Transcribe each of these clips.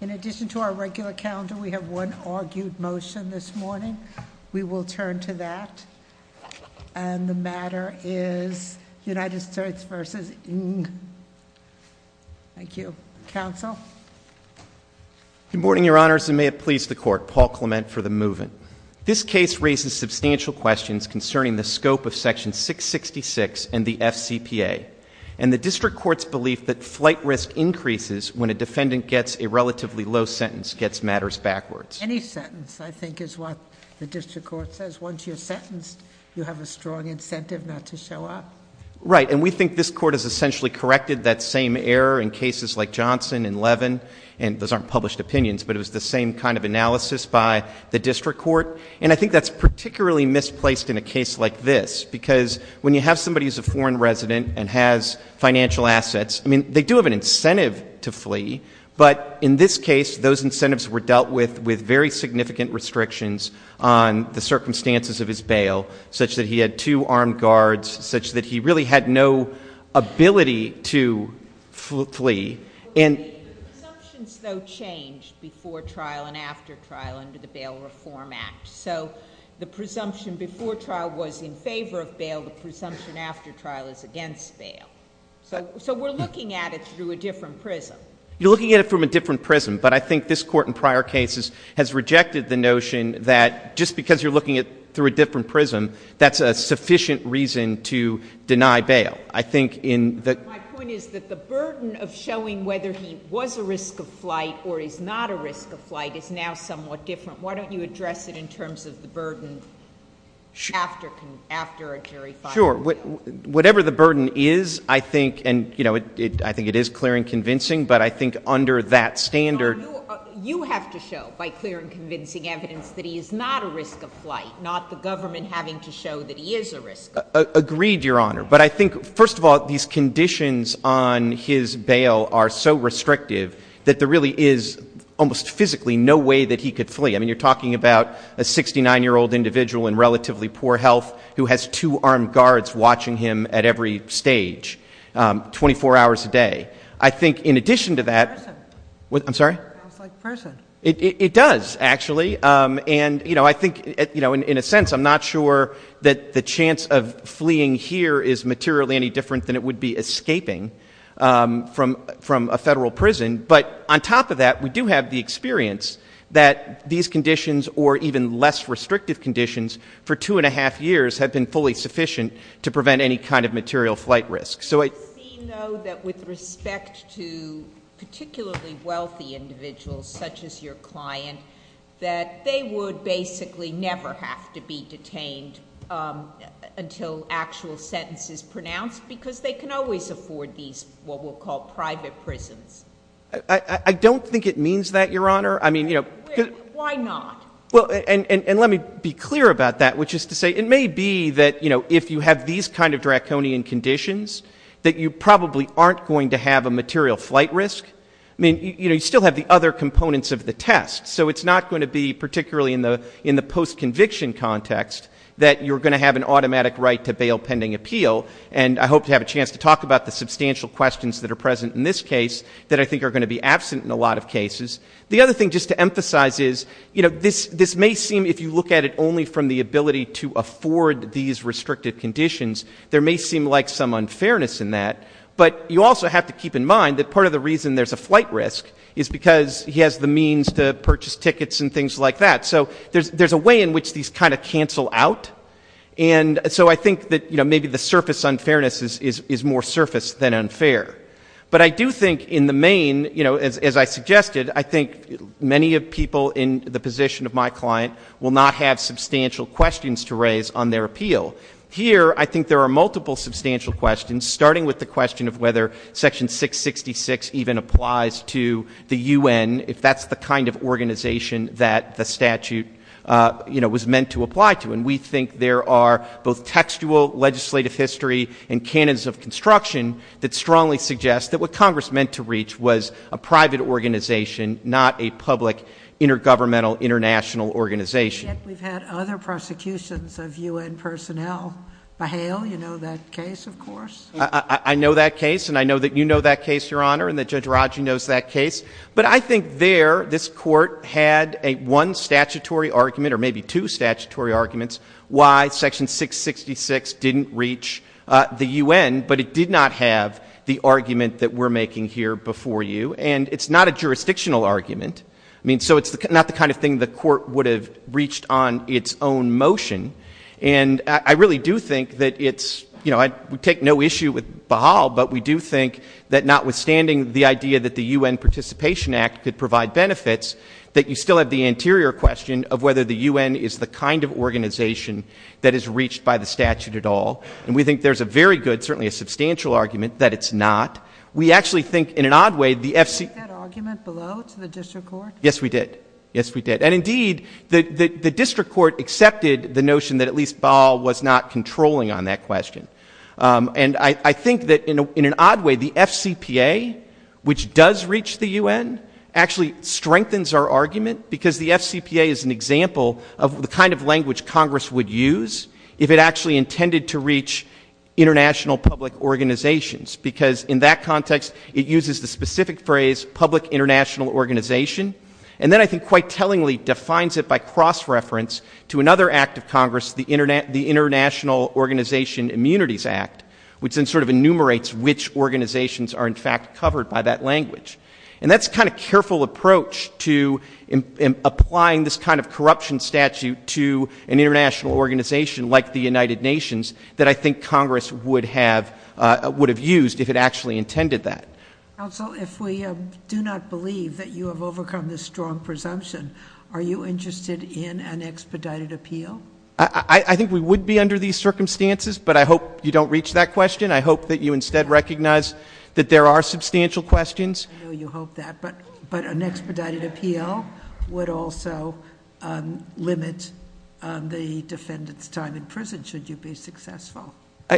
In addition to our regular calendar, we have one argued motion this morning. We will turn to that. And the matter is United States v. Ng. Thank you. Counsel? Good morning, Your Honors, and may it please the Court. Paul Clement for the Move-In. This case raises substantial questions concerning the scope of Section 666 and the FCPA, and the District Court's belief that flight risk increases when a defendant gets a relatively low sentence, gets matters backwards. Any sentence, I think, is what the District Court says. Once you're sentenced, you have a strong incentive not to show up. Right. And we think this Court has essentially corrected that same error in cases like Johnson and Levin. And those aren't published opinions, but it was the same kind of analysis by the District Court. And I think that's particularly misplaced in a case like this, because when you have somebody who's a foreign resident and has financial assets, I mean, they do have an incentive to flee. But in this case, those incentives were dealt with with very significant restrictions on the circumstances of his bail, such that he had two armed guards, such that he really had no ability to flee. The presumptions, though, changed before trial and after trial under the Bail Reform Act. So the presumption before trial was in favor of bail. The presumption after trial is against bail. So we're looking at it through a different prism. You're looking at it from a different prism. But I think this Court in prior cases has rejected the notion that just because you're looking at it through a different prism, that's a sufficient reason to deny bail. I think in the My point is that the burden of showing whether he was a risk of flight or is not a risk of flight in terms of the burden after a jerry-filing. Sure. Whatever the burden is, I think, and, you know, I think it is clear and convincing, but I think under that standard No, you have to show by clear and convincing evidence that he is not a risk of flight, not the government having to show that he is a risk of flight. Agreed, Your Honor. But I think, first of all, these conditions on his bail are so restrictive that there really is almost physically no way that he could flee. I mean, you're talking about a 69-year-old individual in relatively poor health who has two armed guards watching him at every stage, 24 hours a day. I think in addition to that It sounds like prison. It does, actually. And, you know, I think, you know, in a sense, I'm not sure that the chance of fleeing here is materially any different than it would be escaping from a federal prison. But on top of that, we do have the experience that these conditions or even less restrictive conditions for two-and-a-half years have been fully sufficient to prevent any kind of material flight risk. It would seem, though, that with respect to particularly wealthy individuals such as your client, that they would basically never have to be detained until actual sentence is pronounced because they can always afford these what we'll call private prisons. I don't think it means that, Your Honor. I mean, you know. Why not? Well, and let me be clear about that, which is to say it may be that, you know, if you have these kind of draconian conditions, that you probably aren't going to have a material flight risk. I mean, you know, you still have the other components of the test. So it's not going to be particularly in the post-conviction context that you're going to have an automatic right to bail pending appeal. And I hope to have a chance to talk about the substantial questions that are present in this case that I think are going to be absent in a lot of cases. The other thing just to emphasize is, you know, this may seem, if you look at it only from the ability to afford these restrictive conditions, there may seem like some unfairness in that. But you also have to keep in mind that part of the reason there's a flight risk is because he has the means to purchase tickets and things like that. So there's a way in which these kind of cancel out. And so I think that, you know, maybe the surface unfairness is more surface than unfair. But I do think in the main, you know, as I suggested, I think many people in the position of my client will not have substantial questions to raise on their appeal. Here, I think there are multiple substantial questions, starting with the question of whether Section 666 even applies to the U.N. if that's the kind of organization that the statute, you know, was meant to apply to. And we think there are both textual legislative history and canons of construction that strongly suggest that what Congress meant to reach was a private organization, not a public intergovernmental international organization. We've had other prosecutions of U.N. personnel. Bahail, you know that case, of course. I know that case, and I know that you know that case, Your Honor, and that Judge Raju knows that case. But I think there, this Court had a one statutory argument or maybe two statutory arguments why Section 666 didn't reach the U.N., but it did not have the argument that we're making here before you. And it's not a jurisdictional argument. I mean, so it's not the kind of thing the Court would have reached on its own motion. And I really do think that it's, you know, I take no issue with Bahail, but we do think that notwithstanding the idea that the U.N. Participation Act could provide benefits, that you still have the anterior question of whether the U.N. is the kind of organization that is reached by the statute at all. And we think there's a very good, certainly a substantial argument that it's not. We actually think, in an odd way, the F.C. Did you make that argument below to the District Court? Yes, we did. Yes, we did. And indeed, the District Court accepted the notion that at least Bahail was not controlling on that question. And I think that in an odd way, the F.C.P.A., which does reach the U.N., actually strengthens our argument because the F.C.P.A. is an example of the kind of language Congress would use if it actually intended to reach international public organizations. Because in that context, it uses the specific phrase public international organization, and then I think quite tellingly defines it by cross-reference to another act of Congress, the International Organization Immunities Act, which then sort of enumerates which organizations are in fact covered by that language. And that's a kind of careful approach to applying this kind of corruption statute to an international organization like the United Nations that I think Congress would have used if it actually intended that. Counsel, if we do not believe that you have overcome this strong presumption, are you interested in an expedited appeal? I think we would be under these circumstances, but I hope you don't reach that question. I hope that you instead recognize that there are substantial questions. I know you hope that, but an expedited appeal would also limit the defendant's time in prison, should you be successful.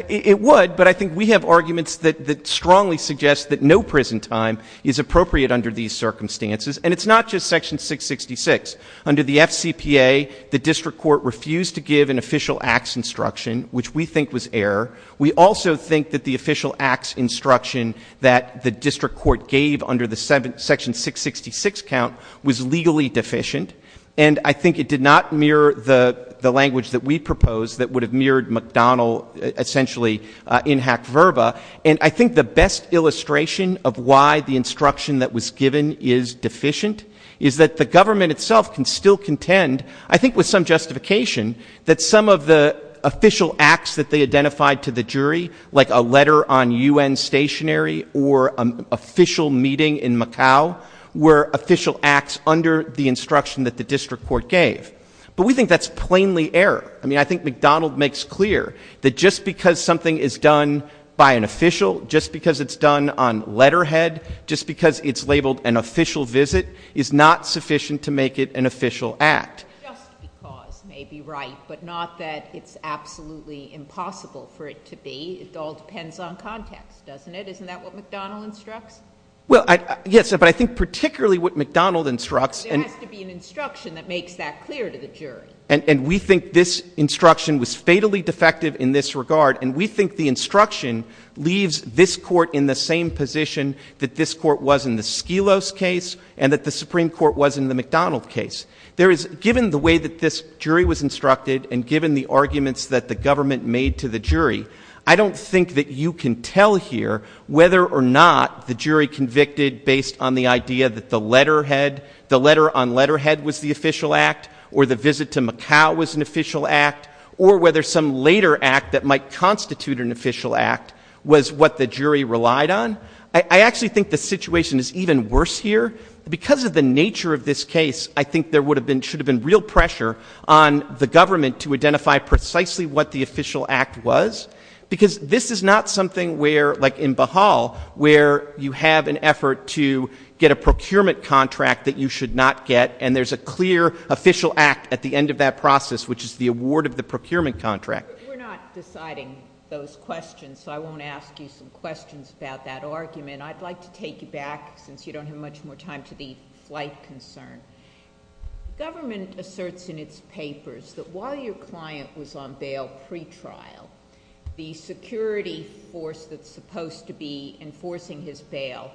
It would, but I think we have arguments that strongly suggest that no prison time is appropriate under these circumstances. And it's not just Section 666. Under the FCPA, the District Court refused to give an official acts instruction, which we think was error. We also think that the official acts instruction that the District Court gave under the Section 666 count was legally deficient, and I think it did not mirror the language that we proposed that would have mirrored McDonnell, essentially, in hack verba. And I think the best illustration of why the instruction that was given is deficient is that the government itself can still contend, I think with some justification, that some of the official acts that they identified to the jury, like a letter on U.N. stationary or an official meeting in Macau, were official acts under the instruction that the District Court gave. But we think that's plainly error. I mean, I think McDonnell makes clear that just because something is done by an official, just because it's done on letterhead, just because it's labeled an official visit, is not sufficient to make it an official act. Just because may be right, but not that it's absolutely impossible for it to be. It all depends on context, doesn't it? Isn't that what McDonnell instructs? Well, yes, but I think particularly what McDonnell instructs and there has to be an instruction that makes that clear to the jury. And we think this instruction was fatally defective in this regard, and we think the instruction leaves this Court in the same position that this Court was in the Skelos case and that the Supreme Court was in the McDonnell case. Given the way that this jury was instructed and given the arguments that the government made to the jury, I don't think that you can tell here whether or not the jury convicted based on the idea that the letterhead, the letter on letterhead was the official act or the visit to Macau was an official act, or whether some later act that might constitute an official act was what the jury relied on. I actually think the situation is even worse here. Because of the nature of this case, I think there would have been, should have been real pressure on the government to identify precisely what the official act was, because this is not something where, like in Baha'u'llah, where you have an effort to get a procurement contract that you should not get, and there's a clear official act at the end of that process, which is the award of the procurement contract. We're not deciding those questions, so I won't ask you some questions about that argument. I'd like to take you back, since you don't have much more time, to the flight concern. Government asserts in its papers that while your client was on bail pretrial, the security force that's supposed to be enforcing his bail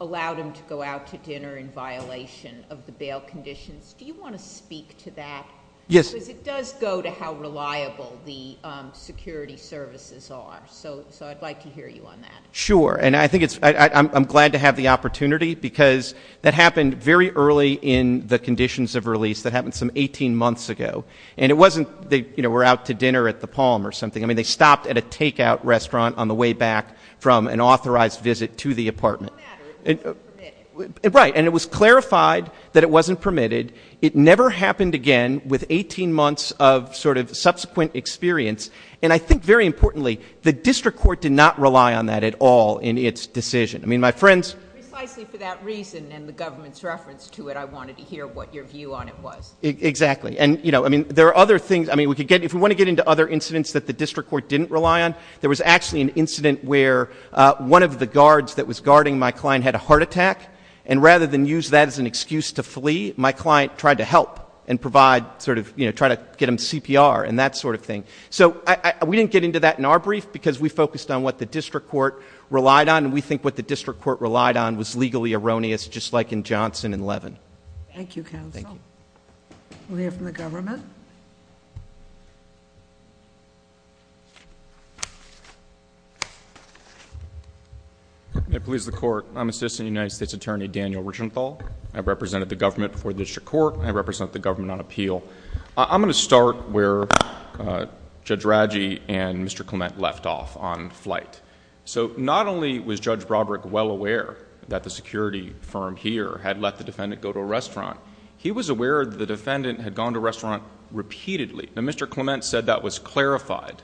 allowed him to go out to dinner in violation of the bail conditions. Do you want to speak to that? Yes. Because it does go to how reliable the security services are. So I'd like to hear you on that. Sure. And I think it's, I'm glad to have the opportunity, because that happened very early in the conditions of release. That happened some 18 months ago. And it wasn't, you know, they were out to dinner at the Palm or something. I mean, they stopped at a takeout restaurant on the way back from an authorized visit to the apartment. It doesn't matter. It wasn't permitted. Right. And it was clarified that it wasn't permitted. It never happened again with 18 months of sort of subsequent experience. And I think, very importantly, the district court did not rely on that at all in its decision. I mean, my friends Precisely for that reason and the government's reference to it, I wanted to hear what your view on it was. Exactly. And, you know, I mean, there are other things, I mean, we could get, if we want to get into other incidents that the district court didn't rely on, there was actually an incident where one of the guards that was guarding my client had a heart attack. And rather than use that as an excuse to flee, my client tried to help and provide sort of, you know, try to get him CPR and that sort of thing. So we didn't get into that in our brief because we focused on what the district court relied on. And we think what the district court relied on was legally erroneous, just like in Johnson and Levin. Thank you, counsel. We'll hear from the government. May it please the Court. I'm Assistant United States Attorney Daniel Richenthal. I represented the government before the district court. I represent the government on appeal. I'm going to start where Judge Radji and Mr. Clement left off on flight. So not only was Judge Broderick well aware that the security firm here had let the defendant go to a restaurant, he was aware that the defendant had gone to a restaurant repeatedly. Now, Mr. Clement said that was clarified.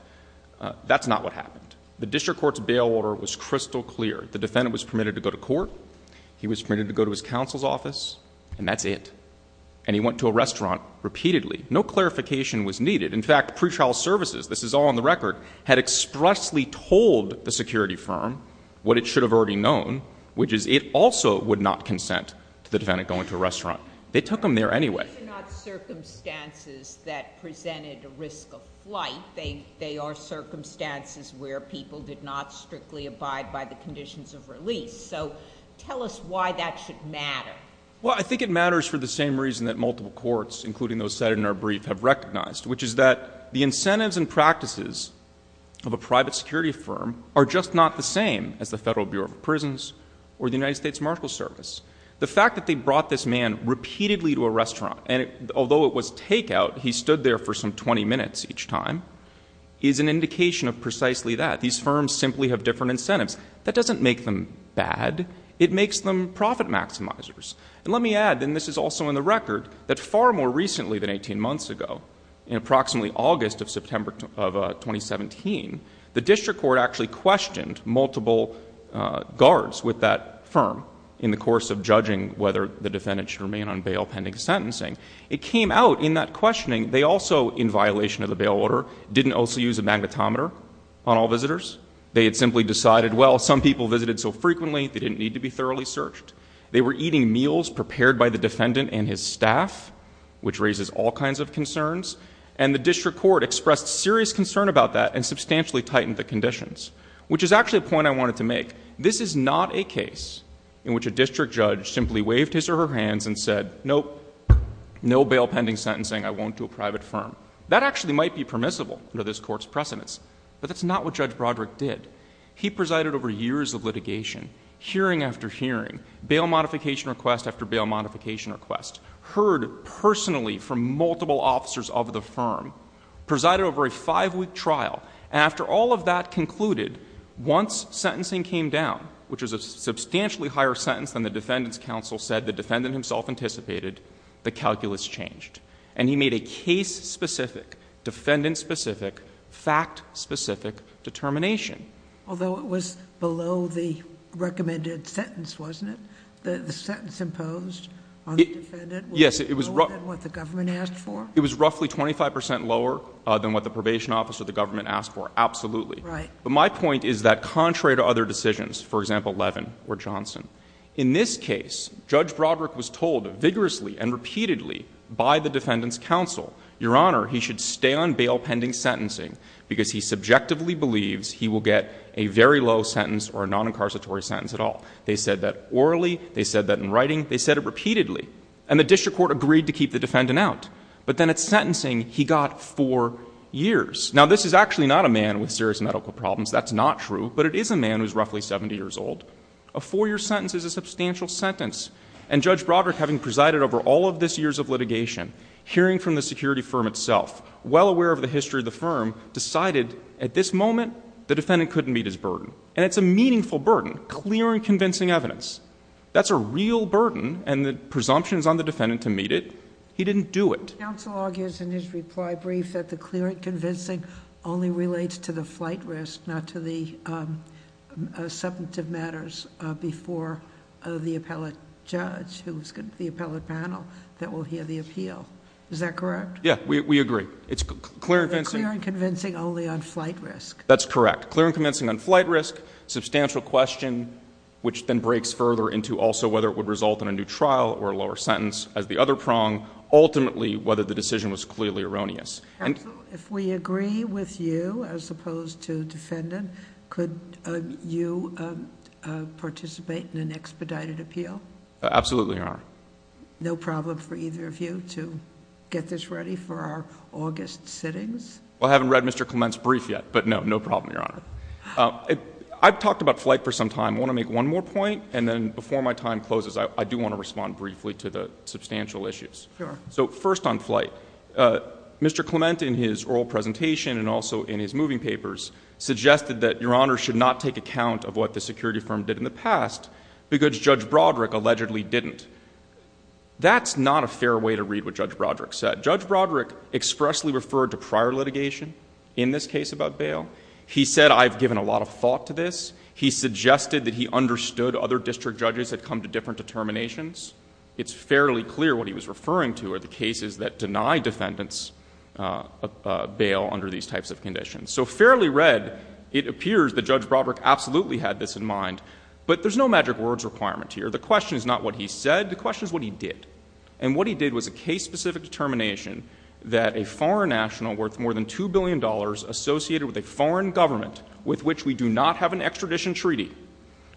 That's not what happened. The district court's bail order was crystal clear. The defendant was permitted to go to court. He was permitted to go to his counsel's office and that's it. And he went to a restaurant repeatedly. No clarification was needed. In fact, pretrial services, this is all on the record, had expressly told the security firm what it should have already known, which is it also would not consent to the defendant going to a restaurant. They took him there anyway. These are not circumstances that presented a risk of flight. They are circumstances where people did not strictly abide by the conditions of release. So tell us why that should matter. Well, I think it matters for the same reason that multiple courts, including those cited in our brief, have recognized, which is that the incentives and practices of a private security firm are just not the same as the Federal Bureau of Prisons or the United States Marshals Service. The fact that they brought this man repeatedly to a restaurant, and although it was takeout, he stood there for some 20 minutes each time, is an indication of precisely that. These firms simply have different incentives. That doesn't make them bad. It makes them profit maximizers. And let me add, and this is also in the record, that far more recently than 18 months ago, in approximately August of September of 2017, the district court actually questioned multiple guards with that firm in the course of judging whether the defendant should remain on bail pending sentencing. It came out in that questioning, they also, in violation of the bail order, didn't also use a magnetometer on all visitors. They had simply decided, well, some people visited so frequently, they didn't need to be thoroughly searched. They were eating meals prepared by the defendant and his staff, which raises all kinds of concerns. And the district court expressed serious concern about that and substantially tightened the conditions, which is actually a point I wanted to make. This is not a case in which a district judge simply waved his or her hands and said, nope, no bail pending sentencing, I won't do a private firm. That actually might be permissible under this court's precedents, but that's not what Judge Broderick did. He presided over years of litigation, hearing after hearing, bail modification request after bail modification request, heard personally from multiple officers of the firm, presided over a five-week trial. And after all of that concluded, once sentencing came down, which was a substantially higher sentence than the defendant's counsel said the defendant himself anticipated, the calculus changed. And he made a case-specific, defendant-specific, fact-specific determination. Although it was below the recommended sentence, wasn't it? The sentence imposed on the defendant was lower than what the government had proposed. The government asked for? It was roughly 25 percent lower than what the probation officer of the government asked for, absolutely. Right. But my point is that contrary to other decisions, for example, Levin or Johnson, in this case, Judge Broderick was told vigorously and repeatedly by the defendant's counsel, Your Honor, he should stay on bail pending sentencing because he subjectively believes he will get a very low sentence or a non-incarceratory sentence at all. They said that orally. They said that in writing. They said it repeatedly. And the district court agreed to keep the defendant out. But then at sentencing, he got four years. Now, this is actually not a man with serious medical problems. That's not true. But it is a man who is roughly 70 years old. A four-year sentence is a substantial sentence. And Judge Broderick, having presided over all of this years of litigation, hearing from the security firm itself, well aware of the history of the firm, decided at this moment the defendant couldn't meet his burden. And it's a meaningful burden, clear and convincing evidence. That's a real burden. And the presumption is on the defendant to meet it. He didn't do it. Counsel argues in his reply brief that the clear and convincing only relates to the flight risk, not to the substantive matters before the appellate judge, the appellate panel that will hear the appeal. Is that correct? Yeah, we agree. It's clear and convincing. Clear and convincing only on flight risk. That's correct. Clear and convincing on flight risk. Substantial question, which then breaks further into also whether it would result in a new trial or a lower sentence as the other prong. Ultimately, whether the decision was clearly erroneous. Counsel, if we agree with you as opposed to defendant, could you participate in an expedited appeal? Absolutely, Your Honor. No problem for either of you to get this ready for our August sittings? Well, I haven't read Mr. Clement's brief yet, but no, no problem, Your Honor. I've talked about flight for some time. I want to make one more point. And then before my time closes, I do want to respond briefly to the substantial issues. Sure. So first on flight, Mr. Clement in his oral presentation and also in his moving papers suggested that Your Honor should not take account of what the security firm did in the past because Judge Broderick allegedly didn't. That's not a fair way to read what Judge Broderick said. Judge Broderick expressly referred to prior litigation in this case about bail. He said, I've given a lot of thought to this. He suggested that he understood other district judges had come to different determinations. It's fairly clear what he was referring to are the cases that deny defendants bail under these types of conditions. So fairly read, it appears that Judge Broderick absolutely had this in mind, but there's no magic words requirement here. The question is not what he said. The question is what he did. And what he did was a case-specific determination that a foreign national worth more than $2 billion associated with a foreign government with which we do not have an extradition treaty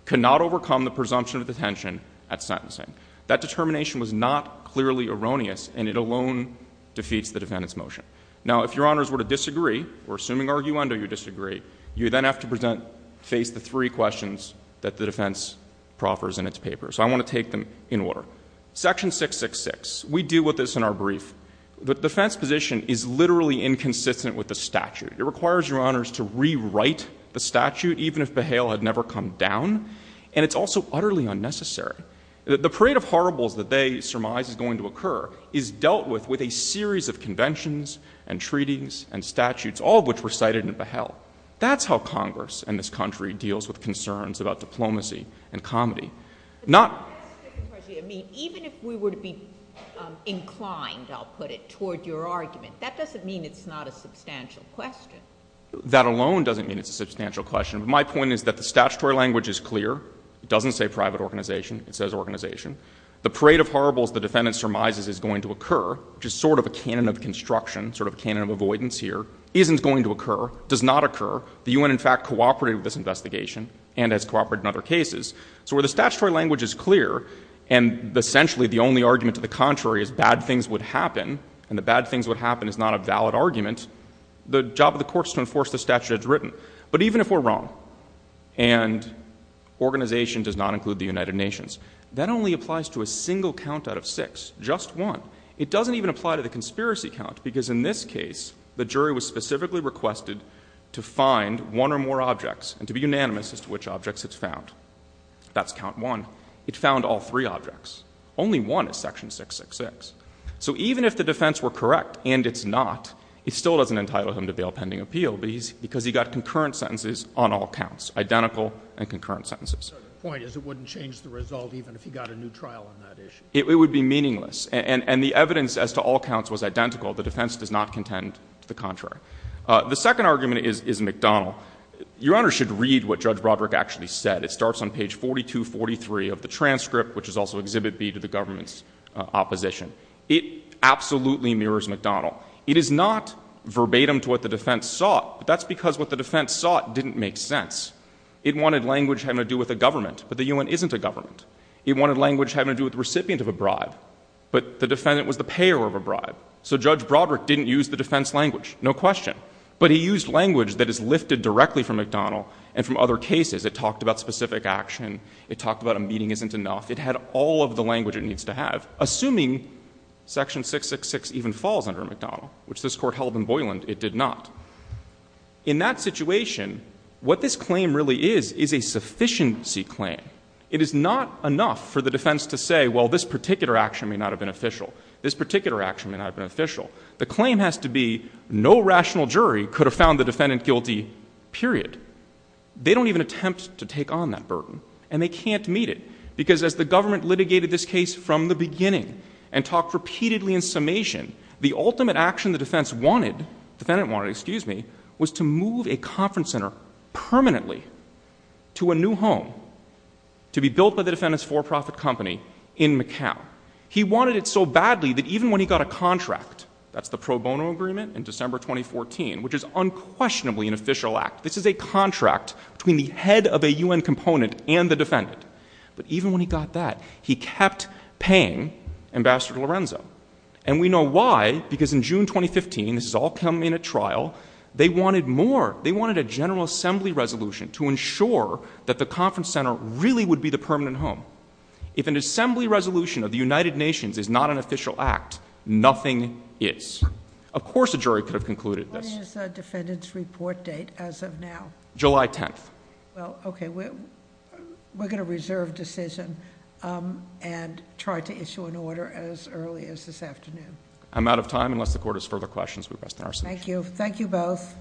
cannot overcome the presumption of detention at sentencing. That determination was not clearly erroneous, and it alone defeats the defendant's motion. Now if Your Honors were to disagree, we're assuming arguendo you disagree, you then have to face the three questions that the defense proffers in its paper. So I want to take them in order. Section 666, we deal with this in our brief. The defense position is literally inconsistent with the statute. It requires Your Honors to rewrite the statute even if behel had never come down, and it's also utterly unnecessary. The parade of horribles that they surmise is going to occur is dealt with with a series of conventions and treaties and statutes, all of which were cited in behel. That's how Congress and this country deals with concerns about diplomacy and comedy. Even if we were to be inclined, I'll put it, toward your argument, that doesn't mean it's not a substantial question. That alone doesn't mean it's a substantial question. My point is that the statutory language is clear. It doesn't say private organization. It says organization. The parade of horribles the defendant surmises is going to occur, which is sort of a canon of construction, sort of a canon of avoidance here, isn't going to occur, does not occur. The U.N. in fact cooperated with this investigation and has cooperated in other cases. So where the statutory language is clear, and essentially the only argument to the contrary is bad things would happen, and the bad things would happen is not a valid argument, the job of the court is to enforce the statute as written. But even if we're wrong, and organization does not include the United Nations, that only applies to a single count out of six, just one. It doesn't even apply to the conspiracy count, because in this case, the jury was to count four objects, and to be unanimous as to which objects it's found. That's count one. It found all three objects. Only one is section 666. So even if the defense were correct, and it's not, it still doesn't entitle him to bail pending appeal, because he got concurrent sentences on all counts, identical and concurrent sentences. So the point is it wouldn't change the result even if he got a new trial on that issue? It would be meaningless. And the evidence as to all counts was identical. The defense does not contend to the contrary. The second argument is McDonnell. Your Honor should read what Judge Broderick actually said. It starts on page 4243 of the transcript, which is also Exhibit B, to the government's opposition. It absolutely mirrors McDonnell. It is not verbatim to what the defense sought, but that's because what the defense sought didn't make sense. It wanted language having to do with a government, but the U.N. isn't a government. It wanted language having to do with the recipient of a bribe, but the defense, Judge Broderick, didn't use the defense language, no question. But he used language that is lifted directly from McDonnell and from other cases. It talked about specific action. It talked about a meeting isn't enough. It had all of the language it needs to have. Assuming Section 666 even falls under McDonnell, which this Court held in Boyland, it did not. In that situation, what this claim really is, is a sufficiency claim. It is not enough for the defense to say, well, this particular action may not have been official. This particular action may not have been official. The claim has to be no rational jury could have found the defendant guilty, period. They don't even attempt to take on that burden, and they can't meet it, because as the government litigated this case from the beginning and talked repeatedly in summation, the ultimate action the defense wanted, defendant wanted, excuse me, was to move a conference center permanently to a new home to be built by the defendant's for-profit company in Macomb. He wanted it so badly that even when he got a contract, that's the pro bono agreement in December 2014, which is unquestionably an official act. This is a contract between the head of a U.N. component and the defendant. But even when he got that, he kept paying Ambassador Lorenzo. And we know why, because in June 2015, this has all come in at trial, they wanted more. They wanted a General Assembly resolution to ensure that the conference center really would be the permanent home. If an Assembly resolution of the United Nations is not an official act, nothing is. Of course a jury could have concluded this. What is the defendant's report date as of now? July 10th. Well, okay. We're going to reserve decision and try to issue an order as early as this afternoon. I'm out of time, unless the Court has further questions. We rest in our seats. Thank you. Thank you both.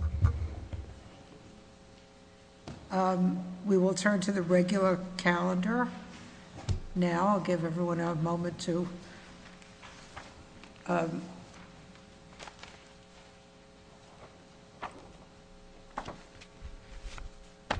We will turn to the regular calendar now. I'll give everyone a moment to...